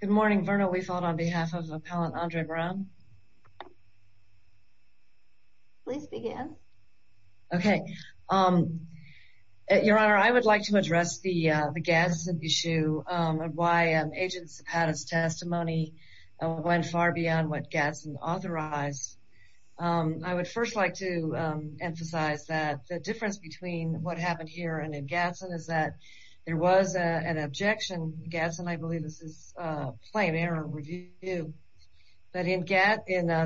Good morning, Verna Weifold on behalf of Appellant Andre Brown. Please begin. Okay. Your Honor, I would like to address the Gadsden issue and why Agents Zapata's testimony went far beyond what Gadsden authorized. I would first like to emphasize that the difference between what happened here and in Gadsden is that there was an objection, Gadsden I believe this is a plain error review, that in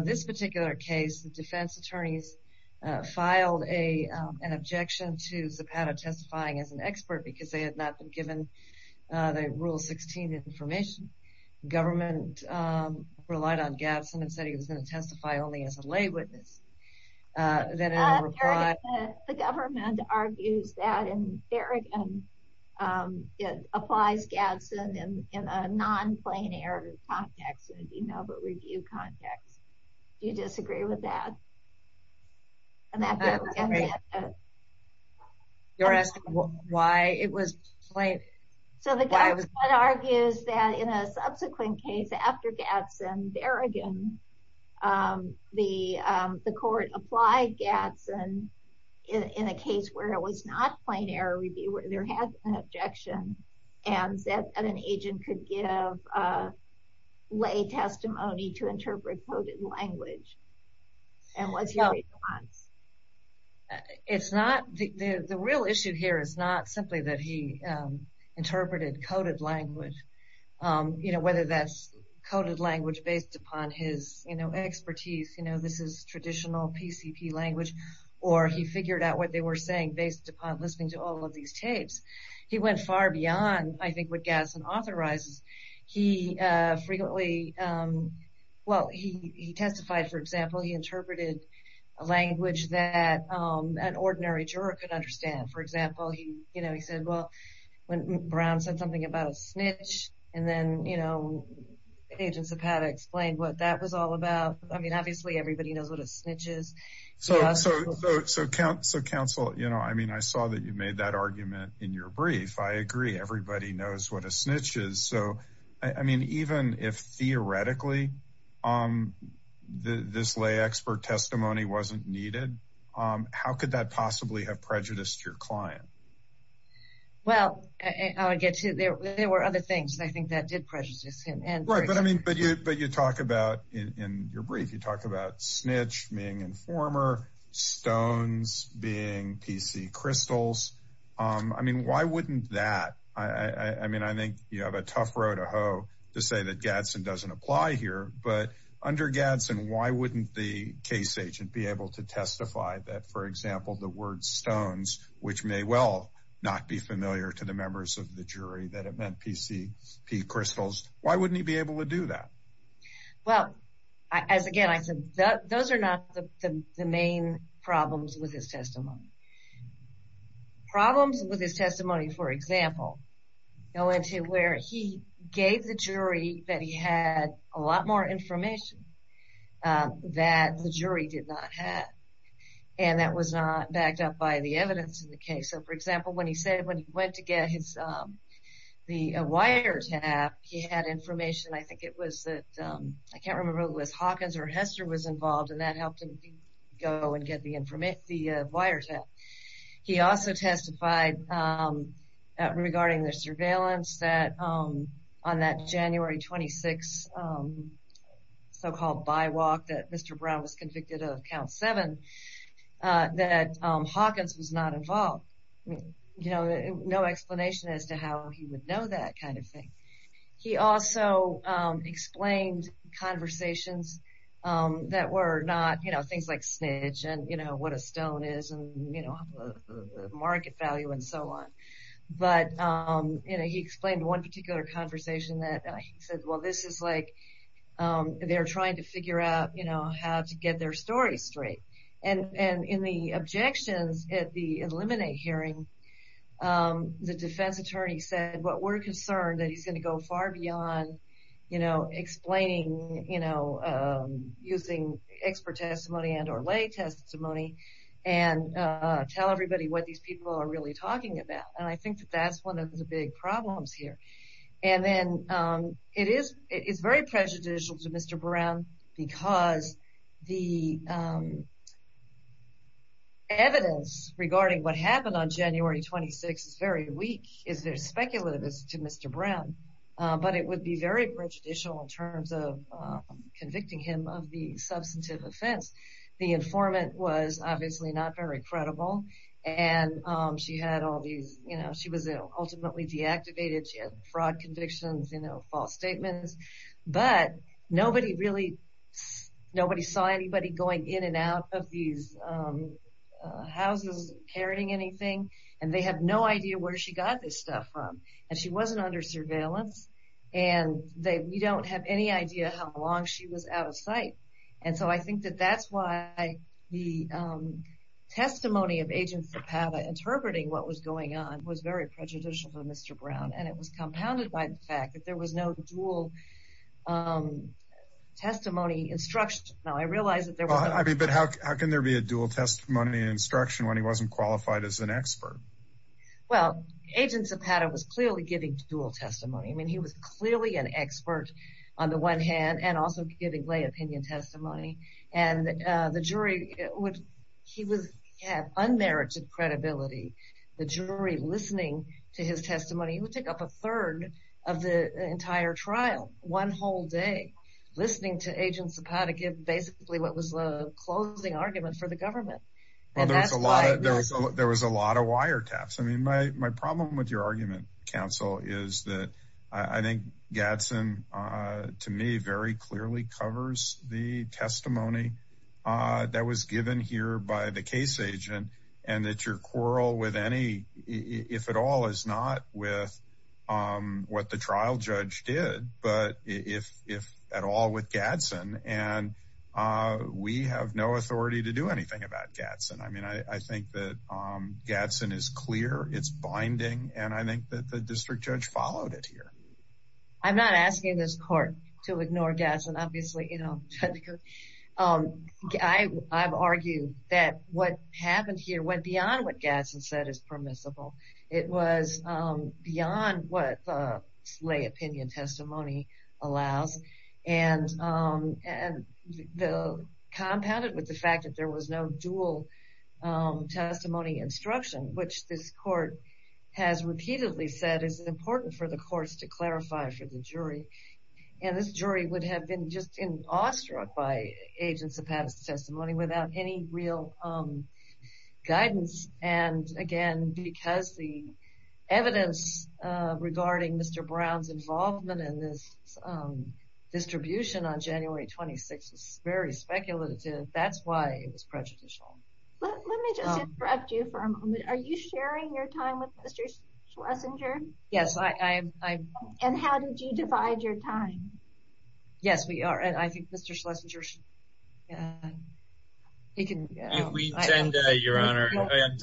this particular case the defense attorneys filed an objection to Zapata testifying as an expert because they had not been given the Rule 16 information. The government relied on Gadsden and said he was going to testify only as a lay witness. The government argues that in Berrigan it applies Gadsden in a non-plain error context, you know, but review context. Do you disagree with that? You're asking why it was plain? So the government argues that in a subsequent case after Gadsden, Berrigan, the court applied Gadsden in a case where it was not plain error review, where there had been an objection, and said that an agent could give lay testimony to interpret coded language. And what's your response? The real issue here is not simply that he interpreted coded language, whether that's coded language based upon his expertise, you know, this is traditional PCP language, or he figured out what they were saying based upon listening to all of these tapes. He went far beyond, I think, what Gadsden authorizes. He testified, for example, he interpreted a language that an ordinary juror could understand. For example, he said, well, when Brown said something about a snitch, and then, you know, agents have had to explain what that was all about. I mean, obviously, everybody knows what a snitch is. So, counsel, you know, I mean, I saw that you made that argument in your brief. I agree, everybody knows what a snitch is. So, I mean, even if theoretically this lay expert testimony wasn't needed, how could that possibly have prejudiced your client? Well, I'll get to it. There were other things I think that did prejudice him. Right, but I mean, but you talk about in your brief, you talk about snitch being informer, stones being PC crystals. I mean, why wouldn't that, I mean, I think you have a tough row to hoe to say that Gadsden doesn't apply here. But under Gadsden, why wouldn't the case agent be able to testify that, for example, the word stones, which may well not be familiar to the members of the jury, that it meant PC crystals. Why wouldn't he be able to do that? Well, as again, I said, those are not the main problems with his testimony. Problems with his testimony, for example, go into where he gave the jury that he had a lot more information that the jury did not have. And that was not backed up by the evidence in the case. So, for example, when he said, when he went to get the wiretap, he had information, I think it was that, I can't remember if it was Hawkins or Hester was involved, and that helped him go and get the wiretap. He also testified regarding the surveillance that on that January 26 so-called bywalk that Mr. Brown was convicted of, that Hawkins was not involved. You know, no explanation as to how he would know that kind of thing. He also explained conversations that were not, you know, things like snitch and, you know, what a stone is and, you know, market value and so on. But, you know, he explained one particular conversation that he said, well, this is like they're trying to figure out, you know, how to get their story straight. And in the objections at the eliminate hearing, the defense attorney said, well, we're concerned that he's going to go far beyond, you know, explaining, you know, using expert testimony and or lay testimony and tell everybody what these people are really talking about. And I think that that's one of the big problems here. And then it is very prejudicial to Mr. Brown because the evidence regarding what happened on January 26 is very weak. It's very speculative to Mr. Brown, but it would be very prejudicial in terms of convicting him of the substantive offense. The informant was obviously not very credible, and she had all these, you know, she was ultimately deactivated. She had fraud convictions, you know, false statements. But nobody really saw anybody going in and out of these houses carrying anything, and they had no idea where she got this stuff from. And she wasn't under surveillance, and we don't have any idea how long she was out of sight. And so I think that that's why the testimony of Agent Zapata interpreting what was going on was very prejudicial for Mr. Brown, and it was compounded by the fact that there was no dual testimony instruction. Now, I realize that there was. But how can there be a dual testimony and instruction when he wasn't qualified as an expert? Well, Agent Zapata was clearly giving dual testimony. I mean, he was clearly an expert on the one hand and also giving lay opinion testimony. And the jury, he had unmerited credibility. The jury listening to his testimony, he would take up a third of the entire trial one whole day, listening to Agent Zapata give basically what was the closing argument for the government. Well, there was a lot of wiretaps. I mean, my problem with your argument, counsel, is that I think Gadsden, to me, very clearly covers the testimony that was given here by the case agent and that your quarrel with any, if at all, is not with what the trial judge did, but if at all with Gadsden. And we have no authority to do anything about Gadsden. I mean, I think that Gadsden is clear. It's binding. And I think that the district judge followed it here. I'm not asking this court to ignore Gadsden, obviously. I've argued that what happened here went beyond what Gadsden said is permissible. It was beyond what the lay opinion testimony allows. And compounded with the fact that there was no dual testimony instruction, which this court has repeatedly said is important for the courts to clarify for the jury. And this jury would have been just as awestruck by Agent Zapata's testimony without any real guidance. And, again, because the evidence regarding Mr. Brown's involvement in this distribution on January 26th is very speculative, that's why it was prejudicial. Let me just interrupt you for a moment. Are you sharing your time with Mr. Schlesinger? Yes, I am. And how did you divide your time? Yes, we are. And I think Mr. Schlesinger, he can. We intend, Your Honor.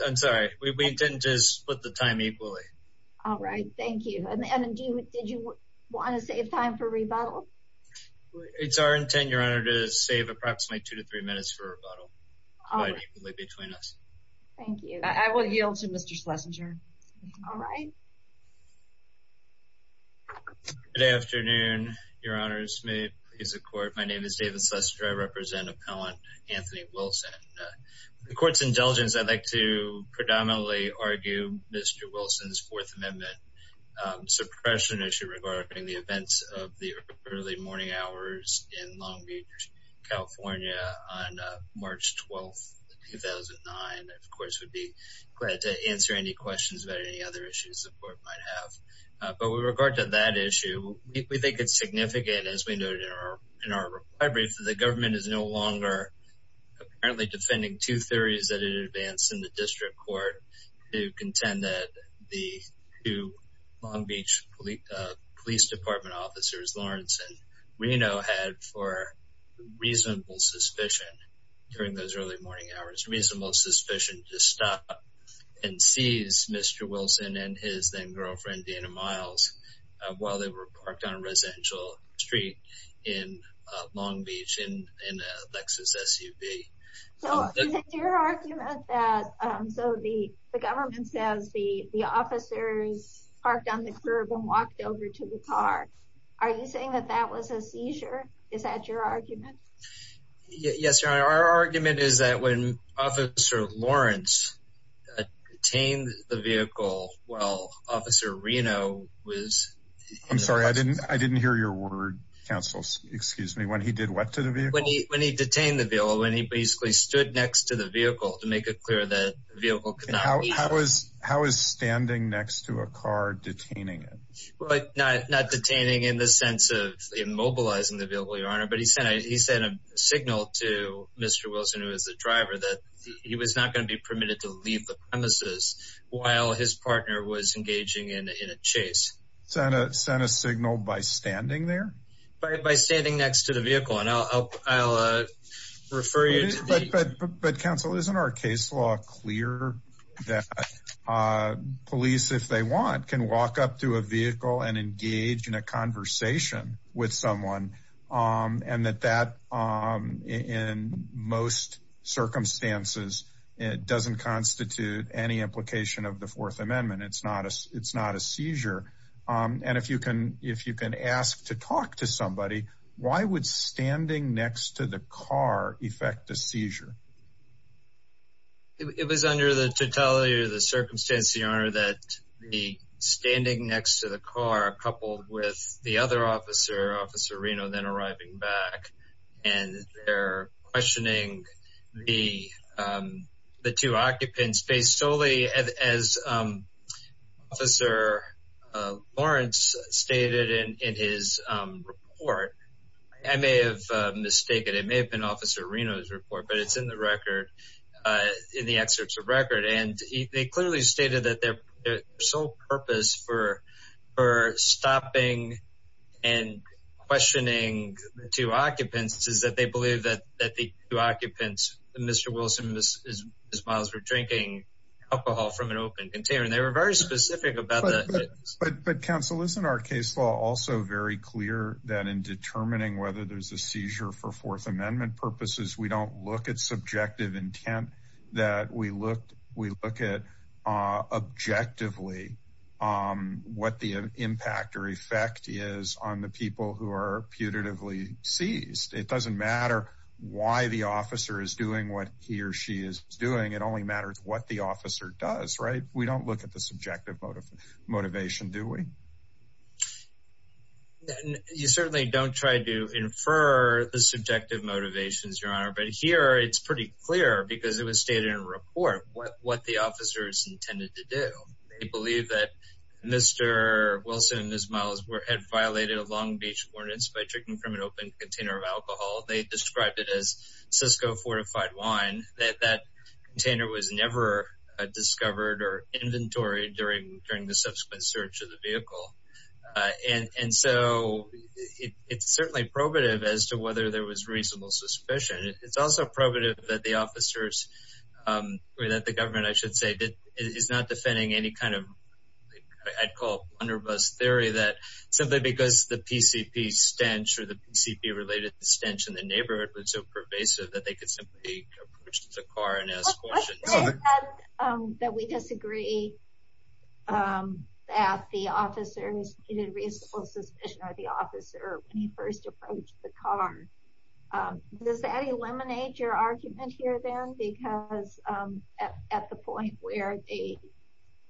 I'm sorry. We intend to split the time equally. All right. Thank you. And did you want to save time for rebuttal? It's our intent, Your Honor, to save approximately two to three minutes for rebuttal. All right. Equally between us. Thank you. I will yield to Mr. Schlesinger. All right. Good afternoon, Your Honors. May it please the court. My name is David Schlesinger. I represent Appellant Anthony Wilson. With the court's indulgence, I'd like to predominantly argue Mr. Wilson's Fourth Amendment suppression issue regarding the events of the early morning hours in Long Beach, California on March 12th, 2009. Of course, we'd be glad to answer any questions about any other issues the court might have. But with regard to that issue, we think it's significant. As we noted in our reply brief, the government is no longer apparently defending two theories that it advanced in the district court to contend that the two Long Beach Police Department officers, Lawrence and Reno, had for reasonable suspicion during those early morning hours, reasonable suspicion to stop and seize Mr. Wilson and his then-girlfriend, while they were parked on a residential street in Long Beach in a Lexus SUV. So is it your argument that the government says the officers parked on the curb and walked over to the car? Are you saying that that was a seizure? Is that your argument? Yes, Your Honor. Our argument is that when Officer Lawrence detained the vehicle while Officer Reno was— I'm sorry. I didn't hear your word, counsel. Excuse me. When he did what to the vehicle? When he detained the vehicle, when he basically stood next to the vehicle to make it clear that the vehicle could not— How is standing next to a car detaining it? Not detaining in the sense of immobilizing the vehicle, Your Honor, but he sent a signal to Mr. Wilson, who is the driver, that he was not going to be permitted to leave the premises while his partner was engaging in a chase. Sent a signal by standing there? By standing next to the vehicle, and I'll refer you to the— But, counsel, isn't our case law clear that police, if they want, can walk up to a vehicle and engage in a conversation with someone, and that that, in most circumstances, doesn't constitute any implication of the Fourth Amendment? It's not a seizure. And if you can ask to talk to somebody, why would standing next to the car affect a seizure? It was under the totality of the circumstance, Your Honor, that the standing next to the car coupled with the other officer, Officer Reno, then arriving back, and they're questioning the two occupants based solely, as Officer Lawrence stated in his report. I may have mistaken. It may have been Officer Reno's report, but it's in the record, in the excerpts of record, and they clearly stated that their sole purpose for stopping and questioning the two occupants is that they believe that the two occupants, Mr. Wilson and Ms. Miles, were drinking alcohol from an open container, and they were very specific about that. But, counsel, isn't our case law also very clear that in determining whether there's a seizure for Fourth Amendment purposes, we don't look at subjective intent, that we look at objectively what the impact or effect is on the people who are putatively seized? It doesn't matter why the officer is doing what he or she is doing. It only matters what the officer does, right? We don't look at the subjective motivation, do we? You certainly don't try to infer the subjective motivations, Your Honor. But here, it's pretty clear, because it was stated in the report, what the officers intended to do. They believe that Mr. Wilson and Ms. Miles had violated a Long Beach ordinance by drinking from an open container of alcohol. They described it as Cisco fortified wine. That container was never discovered or inventoried during the subsequent search of the vehicle. And so, it's certainly probative as to whether there was reasonable suspicion. It's also probative that the officers, or that the government, I should say, is not defending any kind of, I'd call, underbus theory, that simply because the PCP stench or the PCP-related stench in the neighborhood was so pervasive, that they could simply approach the car and ask questions. You said that we disagree that the officers needed reasonable suspicion, or the officer, when he first approached the car. Does that eliminate your argument here, then? Because at the point where they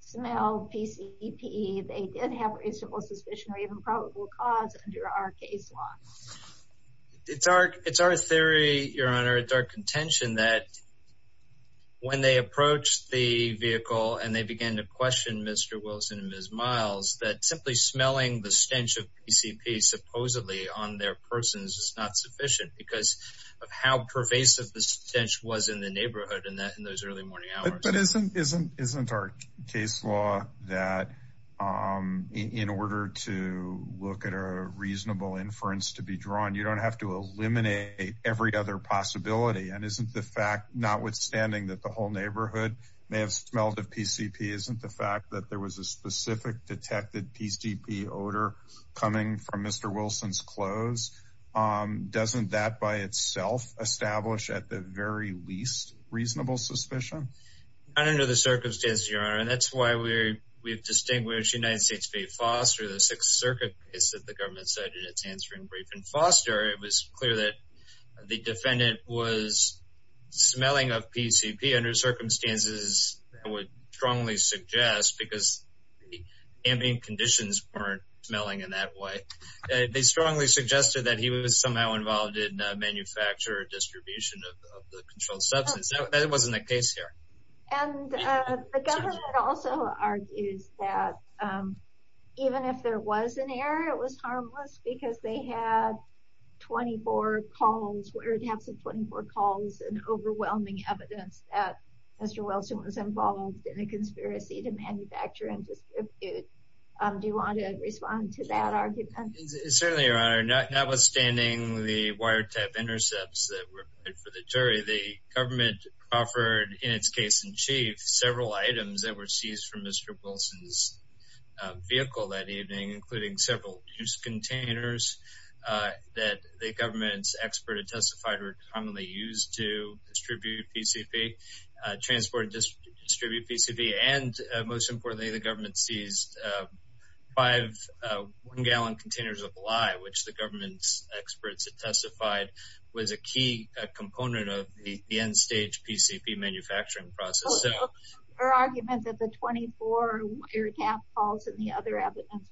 smelled PCP, they did have reasonable suspicion or even probable cause under our case law. It's our theory, Your Honor, it's our contention that when they approached the vehicle and they began to question Mr. Wilson and Ms. Miles, that simply smelling the stench of PCP supposedly on their persons is not sufficient, because of how pervasive the stench was in the neighborhood in those early morning hours. But isn't our case law that in order to look at a reasonable inference to be drawn, you don't have to eliminate every other possibility? And isn't the fact, notwithstanding that the whole neighborhood may have smelled of PCP, isn't the fact that there was a specific detected PCP odor coming from Mr. Wilson's clothes, doesn't that by itself establish at the very least reasonable suspicion? Not under the circumstances, Your Honor. And that's why we've distinguished United States v. Foster, the Sixth Circuit case that the government cited its answering brief. In Foster, it was clear that the defendant was smelling of PCP under circumstances I would strongly suggest, because the ambient conditions weren't smelling in that way. They strongly suggested that he was somehow involved in manufacture or distribution of the controlled substance. That wasn't the case here. And the government also argues that even if there was an error, it was harmless, because they had 24 calls, where it had some 24 calls, and overwhelming evidence that Mr. Wilson was involved in a conspiracy to manufacture and distribute. Do you want to respond to that argument? Certainly, Your Honor. Notwithstanding the wiretap intercepts that were committed for the jury, the government offered in its case in chief several items that were seized from Mr. Wilson's vehicle that evening, including several juice containers that the government's expert had testified were commonly used to distribute PCP, transport and distribute PCP, and most importantly, the government seized five one-gallon containers of lye, which the government's experts had testified was a key component of the end-stage PCP manufacturing process. So, your argument that the 24 wiretap calls and the other evidence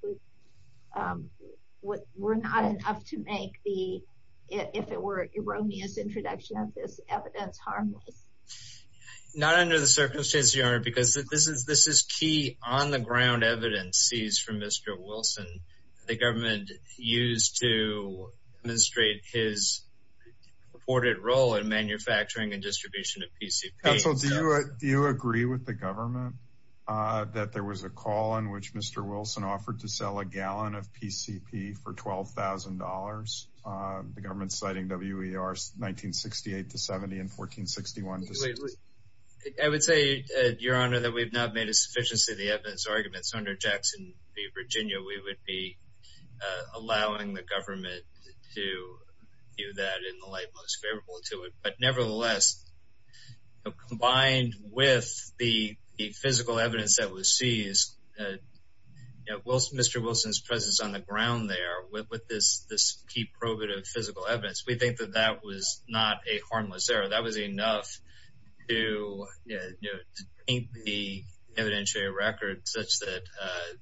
were not enough to make the, if it were an erroneous introduction of this evidence, harmless? Not under the circumstances, Your Honor, because this is key on-the-ground evidence seized from Mr. Wilson that the government used to demonstrate his reported role in manufacturing and distribution of PCP. Counsel, do you agree with the government that there was a call in which Mr. Wilson offered to sell a gallon of PCP for $12,000, the government citing WER's 1968 to 70 and 1461? I would say, Your Honor, that we've not made a sufficiency of the evidence arguments. Under Jackson v. Virginia, we would be allowing the government to do that in the light most favorable to it. But nevertheless, combined with the physical evidence that was seized, Mr. Wilson's presence on the ground there with this key probative physical evidence, we think that that was not a harmless error. That was enough to paint the evidentiary record such that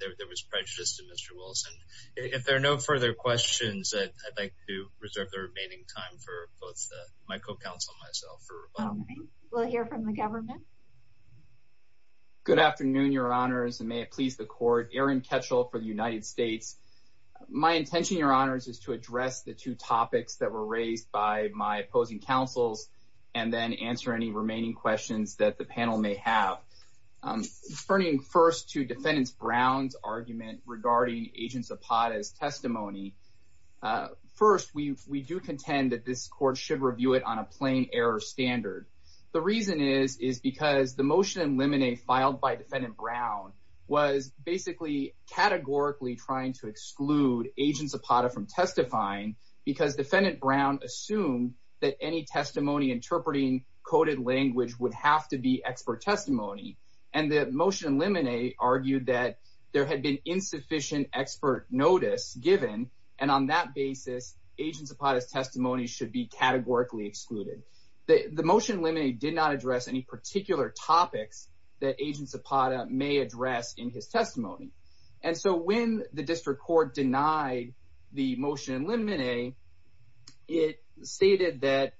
there was prejudice to Mr. Wilson. If there are no further questions, I'd like to reserve the remaining time for both my co-counsel and myself. We'll hear from the government. Good afternoon, Your Honors, and may it please the court. Aaron Ketchel for the United States. My intention, Your Honors, is to address the two topics that were raised by my opposing counsels and then answer any remaining questions that the panel may have. Turning first to Defendant Brown's argument regarding Agent Zapata's testimony, first, we do contend that this court should review it on a plain error standard. The reason is because the motion in limine filed by Defendant Brown was basically categorically trying to exclude Agent Zapata from testifying because Defendant Brown assumed that any testimony interpreting coded language would have to be expert testimony. And the motion in limine argued that there had been insufficient expert notice given, and on that basis, Agent Zapata's testimony should be categorically excluded. The motion in limine did not address any particular topics that Agent Zapata may address in his testimony. And so when the district court denied the motion in limine, it stated that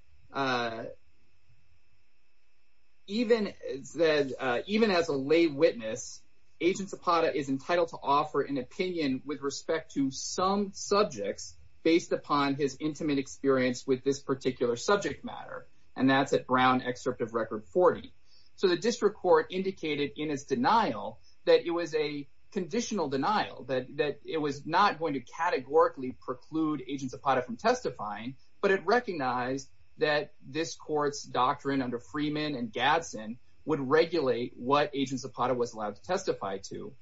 even as a lay witness, Agent Zapata is entitled to offer an opinion with respect to some subjects based upon his intimate experience with this particular subject matter, and that's at Brown Excerpt of Record 40. So the district court indicated in its denial that it was a conditional denial, that it was not going to categorically preclude Agent Zapata from testifying, but it recognized that this court's doctrine under Freeman and Gadsden would regulate what Agent Zapata was allowed to testify to.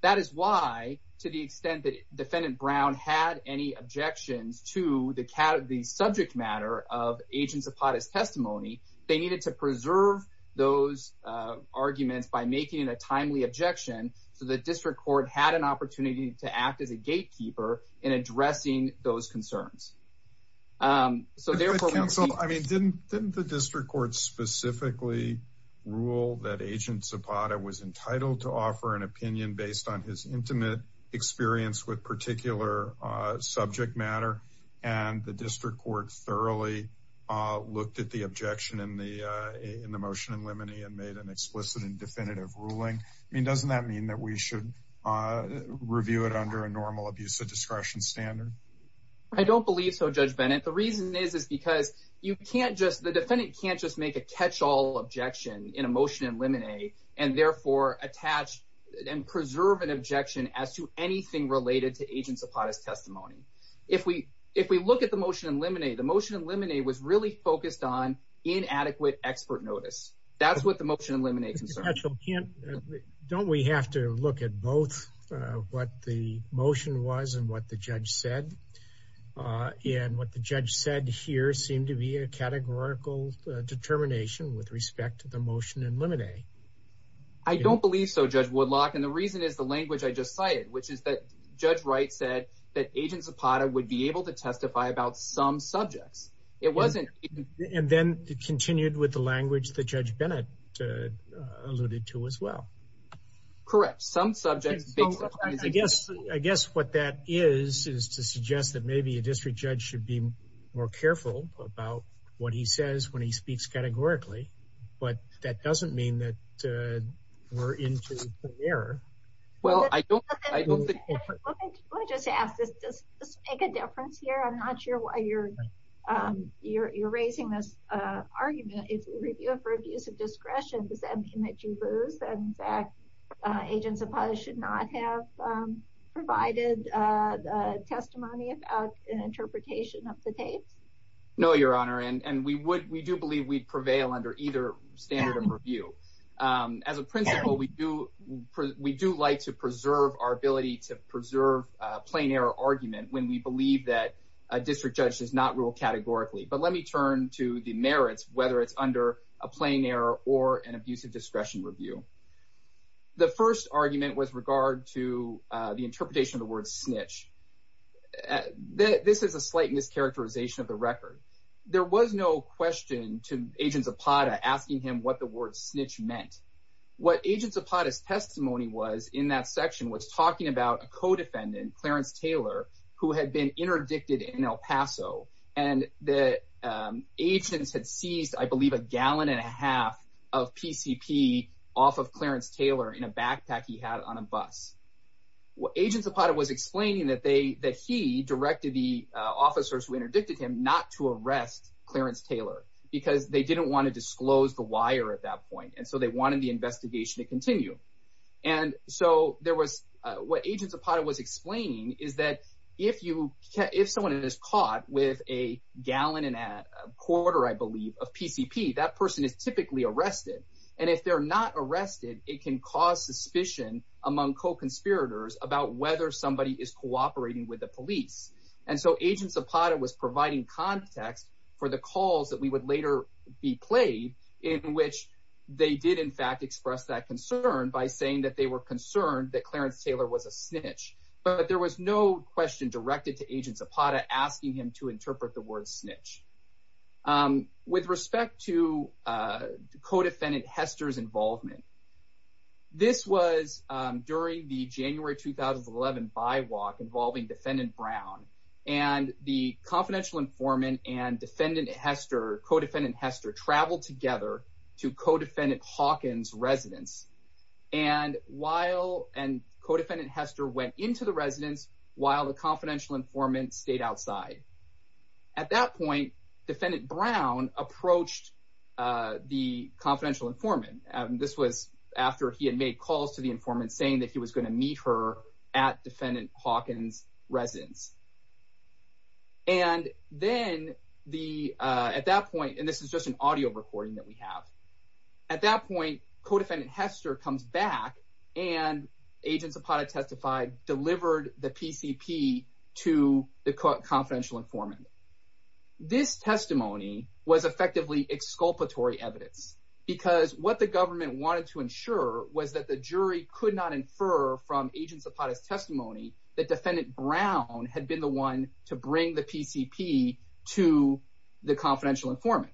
That is why, to the extent that Defendant Brown had any objections to the subject matter of Agent Zapata's testimony, they needed to preserve those arguments by making a timely objection so the district court had an opportunity to act as a gatekeeper in addressing those concerns. I mean, didn't the district court specifically rule that Agent Zapata was entitled to offer an opinion based on his intimate experience with particular subject matter, and the district court thoroughly looked at the objection in the motion in limine and made an explicit and definitive ruling? I mean, doesn't that mean that we should review it under a normal abuse of discretion standard? I don't believe so, Judge Bennett. The reason is because the defendant can't just make a catch-all objection in a motion in limine and therefore attach and preserve an objection as to anything related to Agent Zapata's testimony. If we look at the motion in limine, the motion in limine was really focused on inadequate expert notice. That's what the motion in limine concerns. Don't we have to look at both what the motion was and what the judge said? And what the judge said here seemed to be a categorical determination with respect to the motion in limine. I don't believe so, Judge Woodlock, and the reason is the language I just cited, which is that Judge Wright said that Agent Zapata would be able to testify about some subjects. And then it continued with the language that Judge Bennett alluded to as well. Correct. Some subjects. I guess what that is is to suggest that maybe a district judge should be more careful about what he says when he speaks categorically, but that doesn't mean that we're into an error. Let me just ask, does this make a difference here? I'm not sure why you're raising this argument. If we review it for abuse of discretion, does that mean that you lose and that Agent Zapata should not have provided testimony about an interpretation of the tapes? No, Your Honor, and we do believe we'd prevail under either standard of review. As a principle, we do like to preserve our ability to preserve a plain error argument when we believe that a district judge does not rule categorically. But let me turn to the merits, whether it's under a plain error or an abuse of discretion review. The first argument was regard to the interpretation of the word snitch. This is a slight mischaracterization of the record. There was no question to Agent Zapata asking him what the word snitch meant. What Agent Zapata's testimony was in that section was talking about a co-defendant, Clarence Taylor, who had been interdicted in El Paso, and the agents had seized, I believe, a gallon and a half of PCP off of Clarence Taylor in a backpack he had on a bus. Agent Zapata was explaining that he directed the officers who interdicted him not to arrest Clarence Taylor because they didn't want to disclose the wire at that point, and so they wanted the investigation to continue. And so what Agent Zapata was explaining is that if someone is caught with a gallon and a quarter, I believe, of PCP, that person is typically arrested, and if they're not arrested, it can cause suspicion among co-conspirators about whether somebody is cooperating with the police. And so Agent Zapata was providing context for the calls that would later be played in which they did, in fact, express that concern by saying that they were concerned that Clarence Taylor was a snitch. But there was no question directed to Agent Zapata asking him to interpret the word snitch. With respect to Co-Defendant Hester's involvement, this was during the January 2011 bywalk involving Defendant Brown, and the confidential informant and Co-Defendant Hester traveled together to Co-Defendant Hawkins' residence, and Co-Defendant Hester went into the residence while the confidential informant stayed outside. At that point, Defendant Brown approached the confidential informant. This was after he had made calls to the informant saying that he was going to meet her at Defendant Hawkins' residence. And then at that point, and this is just an audio recording that we have, at that point, Co-Defendant Hester comes back and Agent Zapata testified, delivered the PCP to the confidential informant. This testimony was effectively exculpatory evidence because what the government wanted to ensure was that the jury could not infer from Agent Zapata's testimony that Defendant Brown had been the one to bring the PCP to the confidential informant.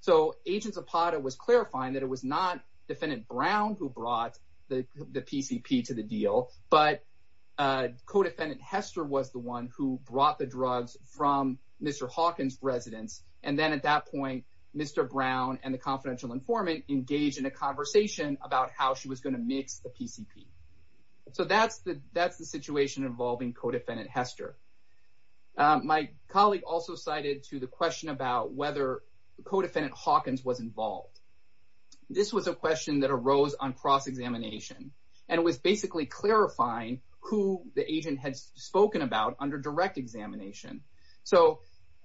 So, Agent Zapata was clarifying that it was not Defendant Brown who brought the PCP to the deal, but Co-Defendant Hester was the one who brought the drugs from Mr. Hawkins' residence. And then at that point, Mr. Brown and the confidential informant engaged in a conversation about how she was going to mix the PCP. So, that's the situation involving Co-Defendant Hester. My colleague also cited to the question about whether Co-Defendant Hawkins was involved. This was a question that arose on cross-examination and was basically clarifying who the agent had spoken about under direct examination. So,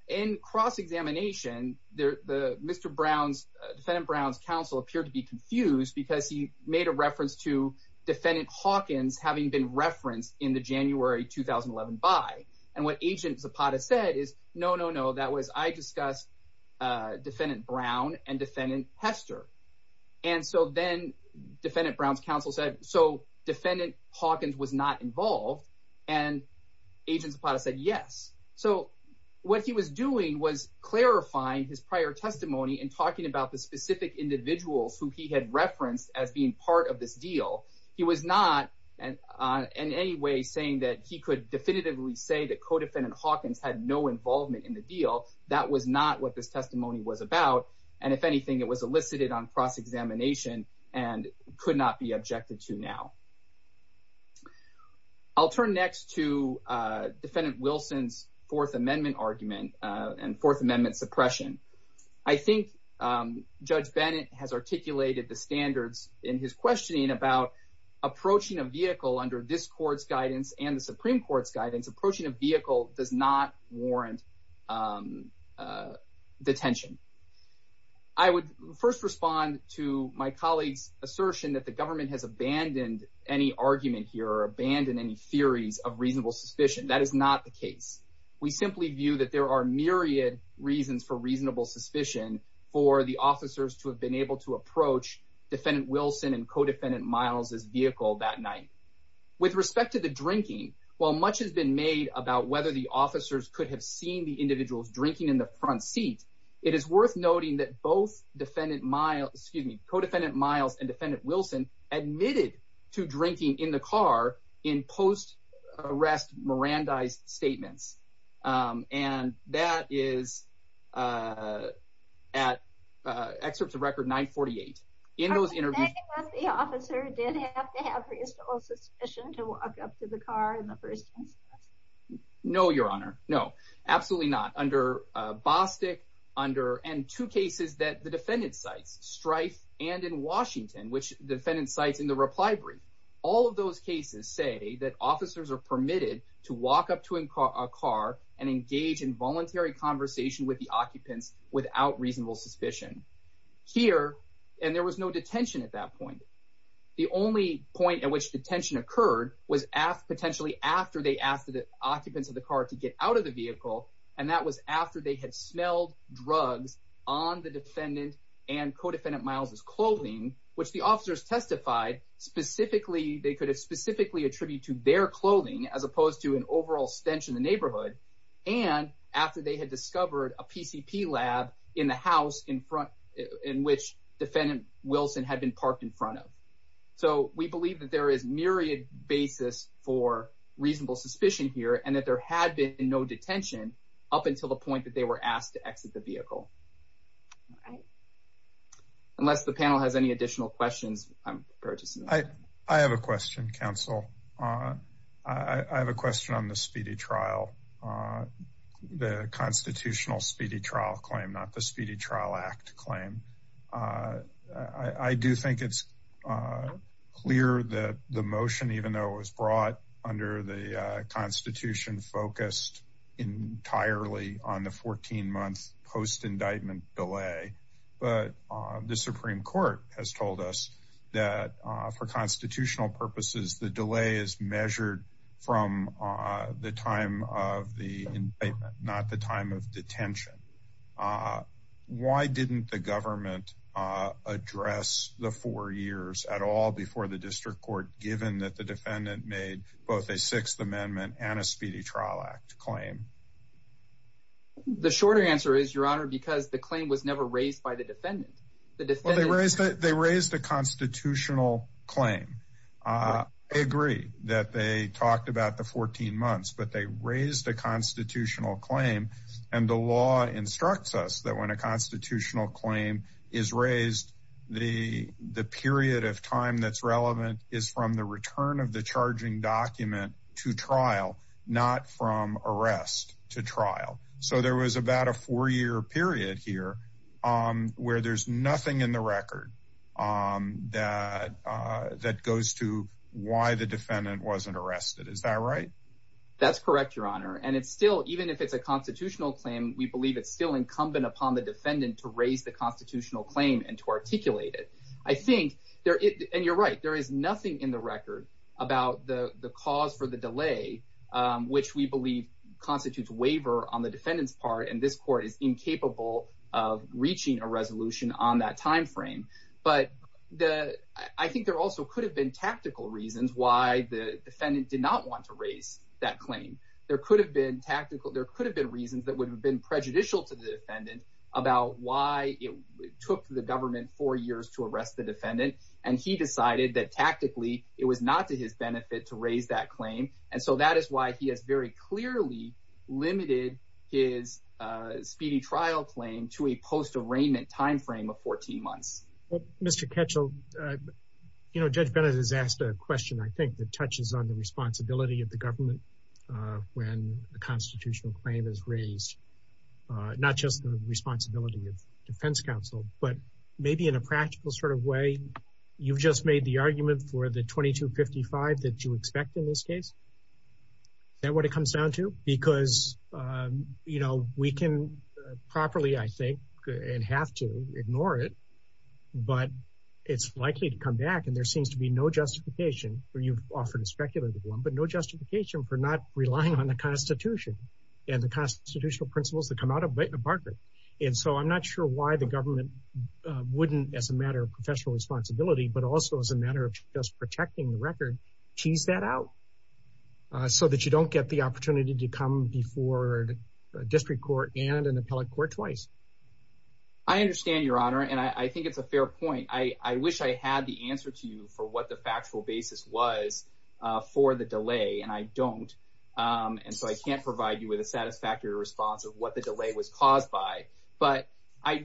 in cross-examination, Mr. Brown's, Defendant Brown's counsel appeared to be confused because he made a reference to Defendant Hawkins having been referenced in the January 2011 by. And what Agent Zapata said is, no, no, no, that was I discussed Defendant Brown and Defendant Hester. And so then Defendant Brown's counsel said, so Defendant Hawkins was not involved. And Agent Zapata said, yes. So, what he was doing was clarifying his prior testimony and talking about the specific individuals who he had referenced as being part of this deal. He was not in any way saying that he could definitively say that Co-Defendant Hawkins had no involvement in the deal. That was not what this testimony was about. And if anything, it was elicited on cross-examination and could not be objected to now. I'll turn next to Defendant Wilson's Fourth Amendment argument and Fourth Amendment suppression. I think Judge Bennett has articulated the standards in his questioning about approaching a vehicle under this court's guidance and the Supreme Court's guidance. Approaching a vehicle does not warrant detention. I would first respond to my colleague's assertion that the government has abandoned any argument here or abandoned any theories of reasonable suspicion. That is not the case. We simply view that there are myriad reasons for reasonable suspicion for the officers to have been able to approach Defendant Wilson and Co-Defendant Miles's vehicle that night. With respect to the drinking, while much has been made about whether the officers could have seen the individuals drinking in the front seat, it is worth noting that both Co-Defendant Miles and Defendant Wilson admitted to drinking in the car in post-arrest Mirandized statements. And that is at excerpts of Record 948. Are we saying that the officer did have to have reasonable suspicion to walk up to the car in the first instance? No, Your Honor. No, absolutely not. Under Bostick and two cases that the defendant cites, Strife and in Washington, which the defendant cites in the reply brief, all of those cases say that officers are permitted to walk up to a car and engage in voluntary conversation with the occupants without reasonable suspicion. And there was no detention at that point. The only point at which detention occurred was potentially after they asked the occupants of the car to get out of the vehicle, and that was after they had smelled drugs on the defendant and Co-Defendant Miles's clothing, which the officers testified they could have specifically attributed to their clothing as opposed to an overall stench in the neighborhood, and after they had discovered a PCP lab in the house in front in which Defendant Wilson had been parked in front of. So we believe that there is myriad basis for reasonable suspicion here and that there had been no detention up until the point that they were asked to exit the vehicle. Unless the panel has any additional questions. I have a question, Counsel. I have a question on the speedy trial, the constitutional speedy trial claim, not the Speedy Trial Act claim. I do think it's clear that the motion, even though it was brought under the Constitution, focused entirely on the 14 month post indictment delay. But the Supreme Court has told us that for constitutional purposes, the delay is measured from the time of the indictment, not the time of detention. Why didn't the government address the four years at all before the district court, given that the defendant made both a Sixth Amendment and a Speedy Trial Act claim? The shorter answer is, Your Honor, because the claim was never raised by the defendant. They raised a constitutional claim. I agree that they talked about the 14 months, but they raised a constitutional claim, and the law instructs us that when a constitutional claim is raised, the period of time that's relevant is from the return of the charging document to trial, not from arrest to trial. So there was about a four year period here where there's nothing in the record that goes to why the defendant wasn't arrested. Is that right? That's correct, Your Honor. And it's still even if it's a constitutional claim, we believe it's still incumbent upon the defendant to raise the constitutional claim and to articulate it. I think there and you're right. There is nothing in the record about the cause for the delay, which we believe constitutes waiver on the defendant's part. And this court is incapable of reaching a resolution on that time frame. But the I think there also could have been tactical reasons why the defendant did not want to raise that claim. There could have been tactical. There could have been reasons that would have been prejudicial to the defendant about why it took the government four years to arrest the defendant. And he decided that tactically it was not to his benefit to raise that claim. And so that is why he has very clearly limited his speedy trial claim to a post arraignment time frame of 14 months. Mr. Ketchel, you know, Judge Bennett has asked a question, I think, that touches on the responsibility of the government when a constitutional claim is raised, not just the responsibility of defense counsel, but maybe in a practical sort of way. You've just made the argument for the 2255 that you expect in this case. Is that what it comes down to? Because, you know, we can properly, I think, and have to ignore it, but it's likely to come back. And there seems to be no justification where you've offered a speculative one, but no justification for not relying on the Constitution and the constitutional principles that come out of Bartlett. And so I'm not sure why the government wouldn't, as a matter of professional responsibility, but also as a matter of just protecting the record, tease that out so that you don't get the opportunity to come before a district court and an appellate court twice. I understand, Your Honor, and I think it's a fair point. I wish I had the answer to you for what the factual basis was for the delay, and I don't. And so I can't provide you with a satisfactory response of what the delay was caused by. But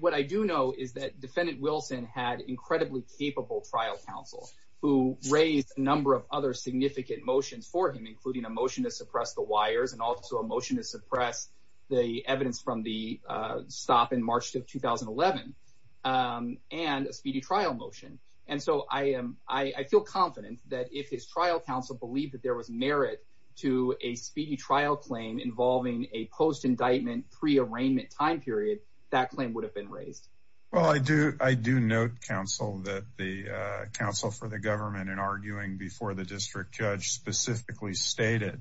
what I do know is that Defendant Wilson had incredibly capable trial counsel who raised a number of other significant motions for him, including a motion to suppress the wires and also a motion to suppress the evidence from the stop in March of 2011 and a speedy trial motion. And so I am I feel confident that if his trial counsel believed that there was merit to a speedy trial claim involving a post indictment pre arraignment time period, that claim would have been raised. Well, I do. I do note, counsel, that the counsel for the government in arguing before the district judge specifically stated,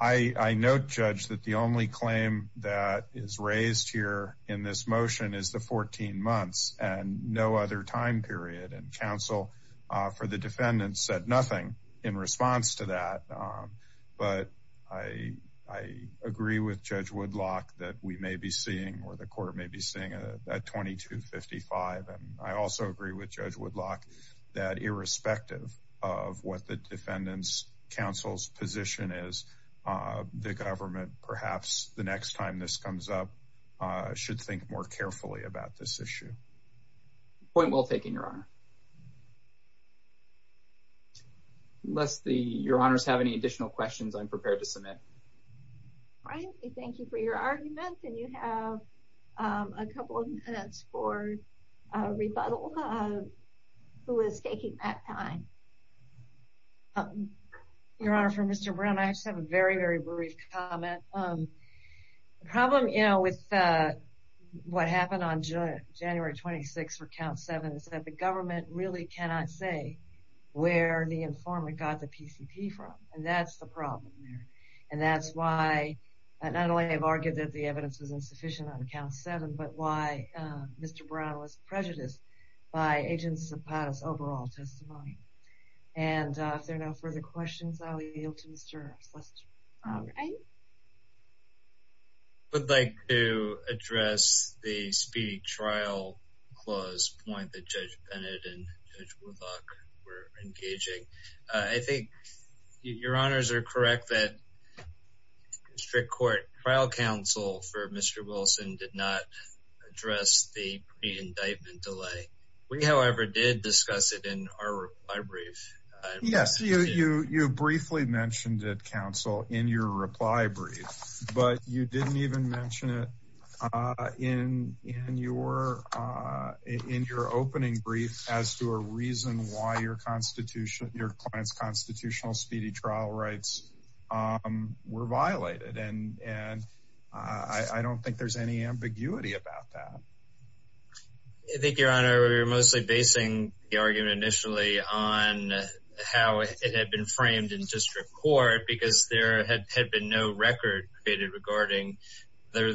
I note, judge, that the only claim that is raised here in this motion is the 14 months and no other time period. And counsel for the defendant said nothing in response to that. But I, I agree with Judge Woodlock that we may be seeing where the court may be seeing a 2255. And I also agree with Judge Woodlock that irrespective of what the defendant's counsel's position is, the government, perhaps the next time this comes up, should think more carefully about this issue. Point well taken, your honor. Unless the your honors have any additional questions, I'm prepared to submit. Thank you for your argument. And you have a couple of minutes for rebuttal. Who is taking that time? Your Honor, for Mr. Brown, I just have a very, very brief comment. The problem, you know, with what happened on January 26 for count seven is that the government really cannot say where the informant got the PCP from. And that's the problem. And that's why not only have argued that the evidence is insufficient on count seven, but why Mr. Brown was prejudiced by agents of POTUS overall testimony. And if there are no further questions, I'll yield to Mr. West. I would like to address the speedy trial clause point that Judge Bennett and Judge Woodlock were engaging. I think your honors are correct that strict court trial counsel for Mr. Wilson did not address the pre-indictment delay. We, however, did discuss it in our brief. Yes. You you briefly mentioned it, counsel, in your reply brief, but you didn't even mention it in your in your opening brief as to a reason why your constitution, your constitutional speedy trial rights were violated. And and I don't think there's any ambiguity about that. I think your honor, we were mostly basing the argument initially on how it had been framed in district court because there had been no record created regarding there.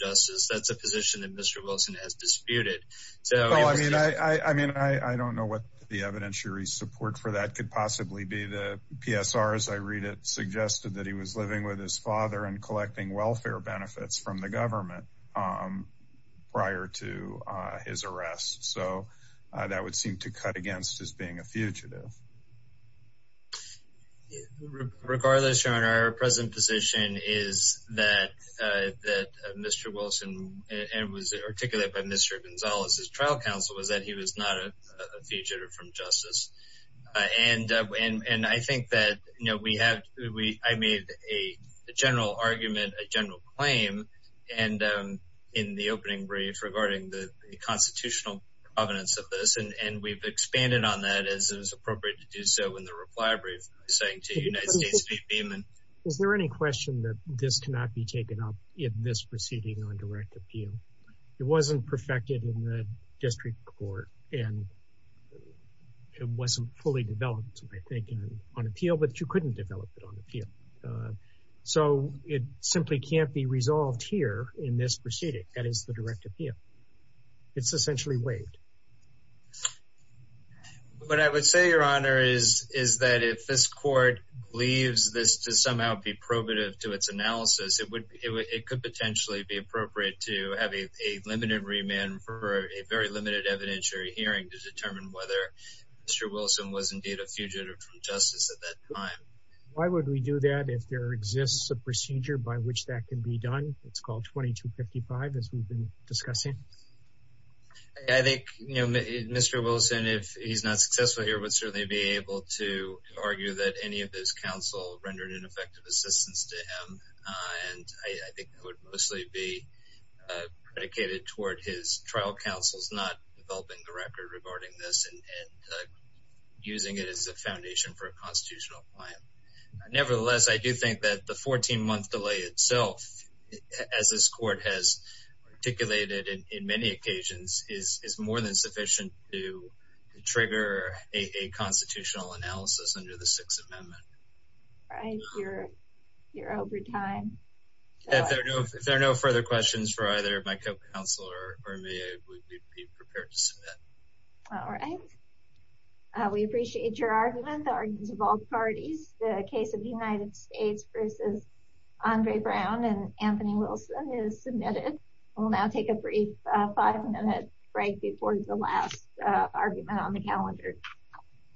That's a position that Mr. Wilson has disputed. So, I mean, I mean, I don't know what the evidentiary support for that could possibly be. The PSR, as I read it, suggested that he was living with his father and collecting welfare benefits from the government prior to his arrest. So that would seem to cut against his being a fugitive. Regardless, your honor, our present position is that that Mr. Wilson and was articulated by Mr. Gonzalez's trial counsel was that he was not a fugitive from justice. And and I think that, you know, we have we I made a general argument, a general claim and in the opening brief regarding the constitutional evidence of this. And we've expanded on that as it was appropriate to do so in the reply brief saying to the United States. Is there any question that this cannot be taken up in this proceeding on direct appeal? It wasn't perfected in the district court and it wasn't fully developed, I think, on appeal. But you couldn't develop it on appeal. So it simply can't be resolved here in this proceeding. That is the direct appeal. It's essentially waived. But I would say, your honor, is is that if this court leaves this to somehow be probative to its analysis, it would it could potentially be appropriate to have a limited remand for a very limited evidentiary hearing to determine whether Mr. Wilson was indeed a fugitive from justice at that time. Why would we do that if there exists a procedure by which that can be done? It's called 2255, as we've been discussing. I think, you know, Mr. Wilson, if he's not successful here, would certainly be able to argue that any of his counsel rendered ineffective assistance to him. And I think it would mostly be predicated toward his trial counsel's not developing the record regarding this and using it as a foundation for a constitutional plan. Nevertheless, I do think that the 14 month delay itself, as this court has articulated in many occasions, is more than sufficient to trigger a constitutional analysis under the Sixth Amendment. All right. You're over time. If there are no further questions for either my counsel or me, I would be prepared to submit. All right. We appreciate your argument. The arguments of all parties. The case of the United States versus Andre Brown and Anthony Wilson is submitted. We'll now take a brief five minute break before the last argument on the calendar.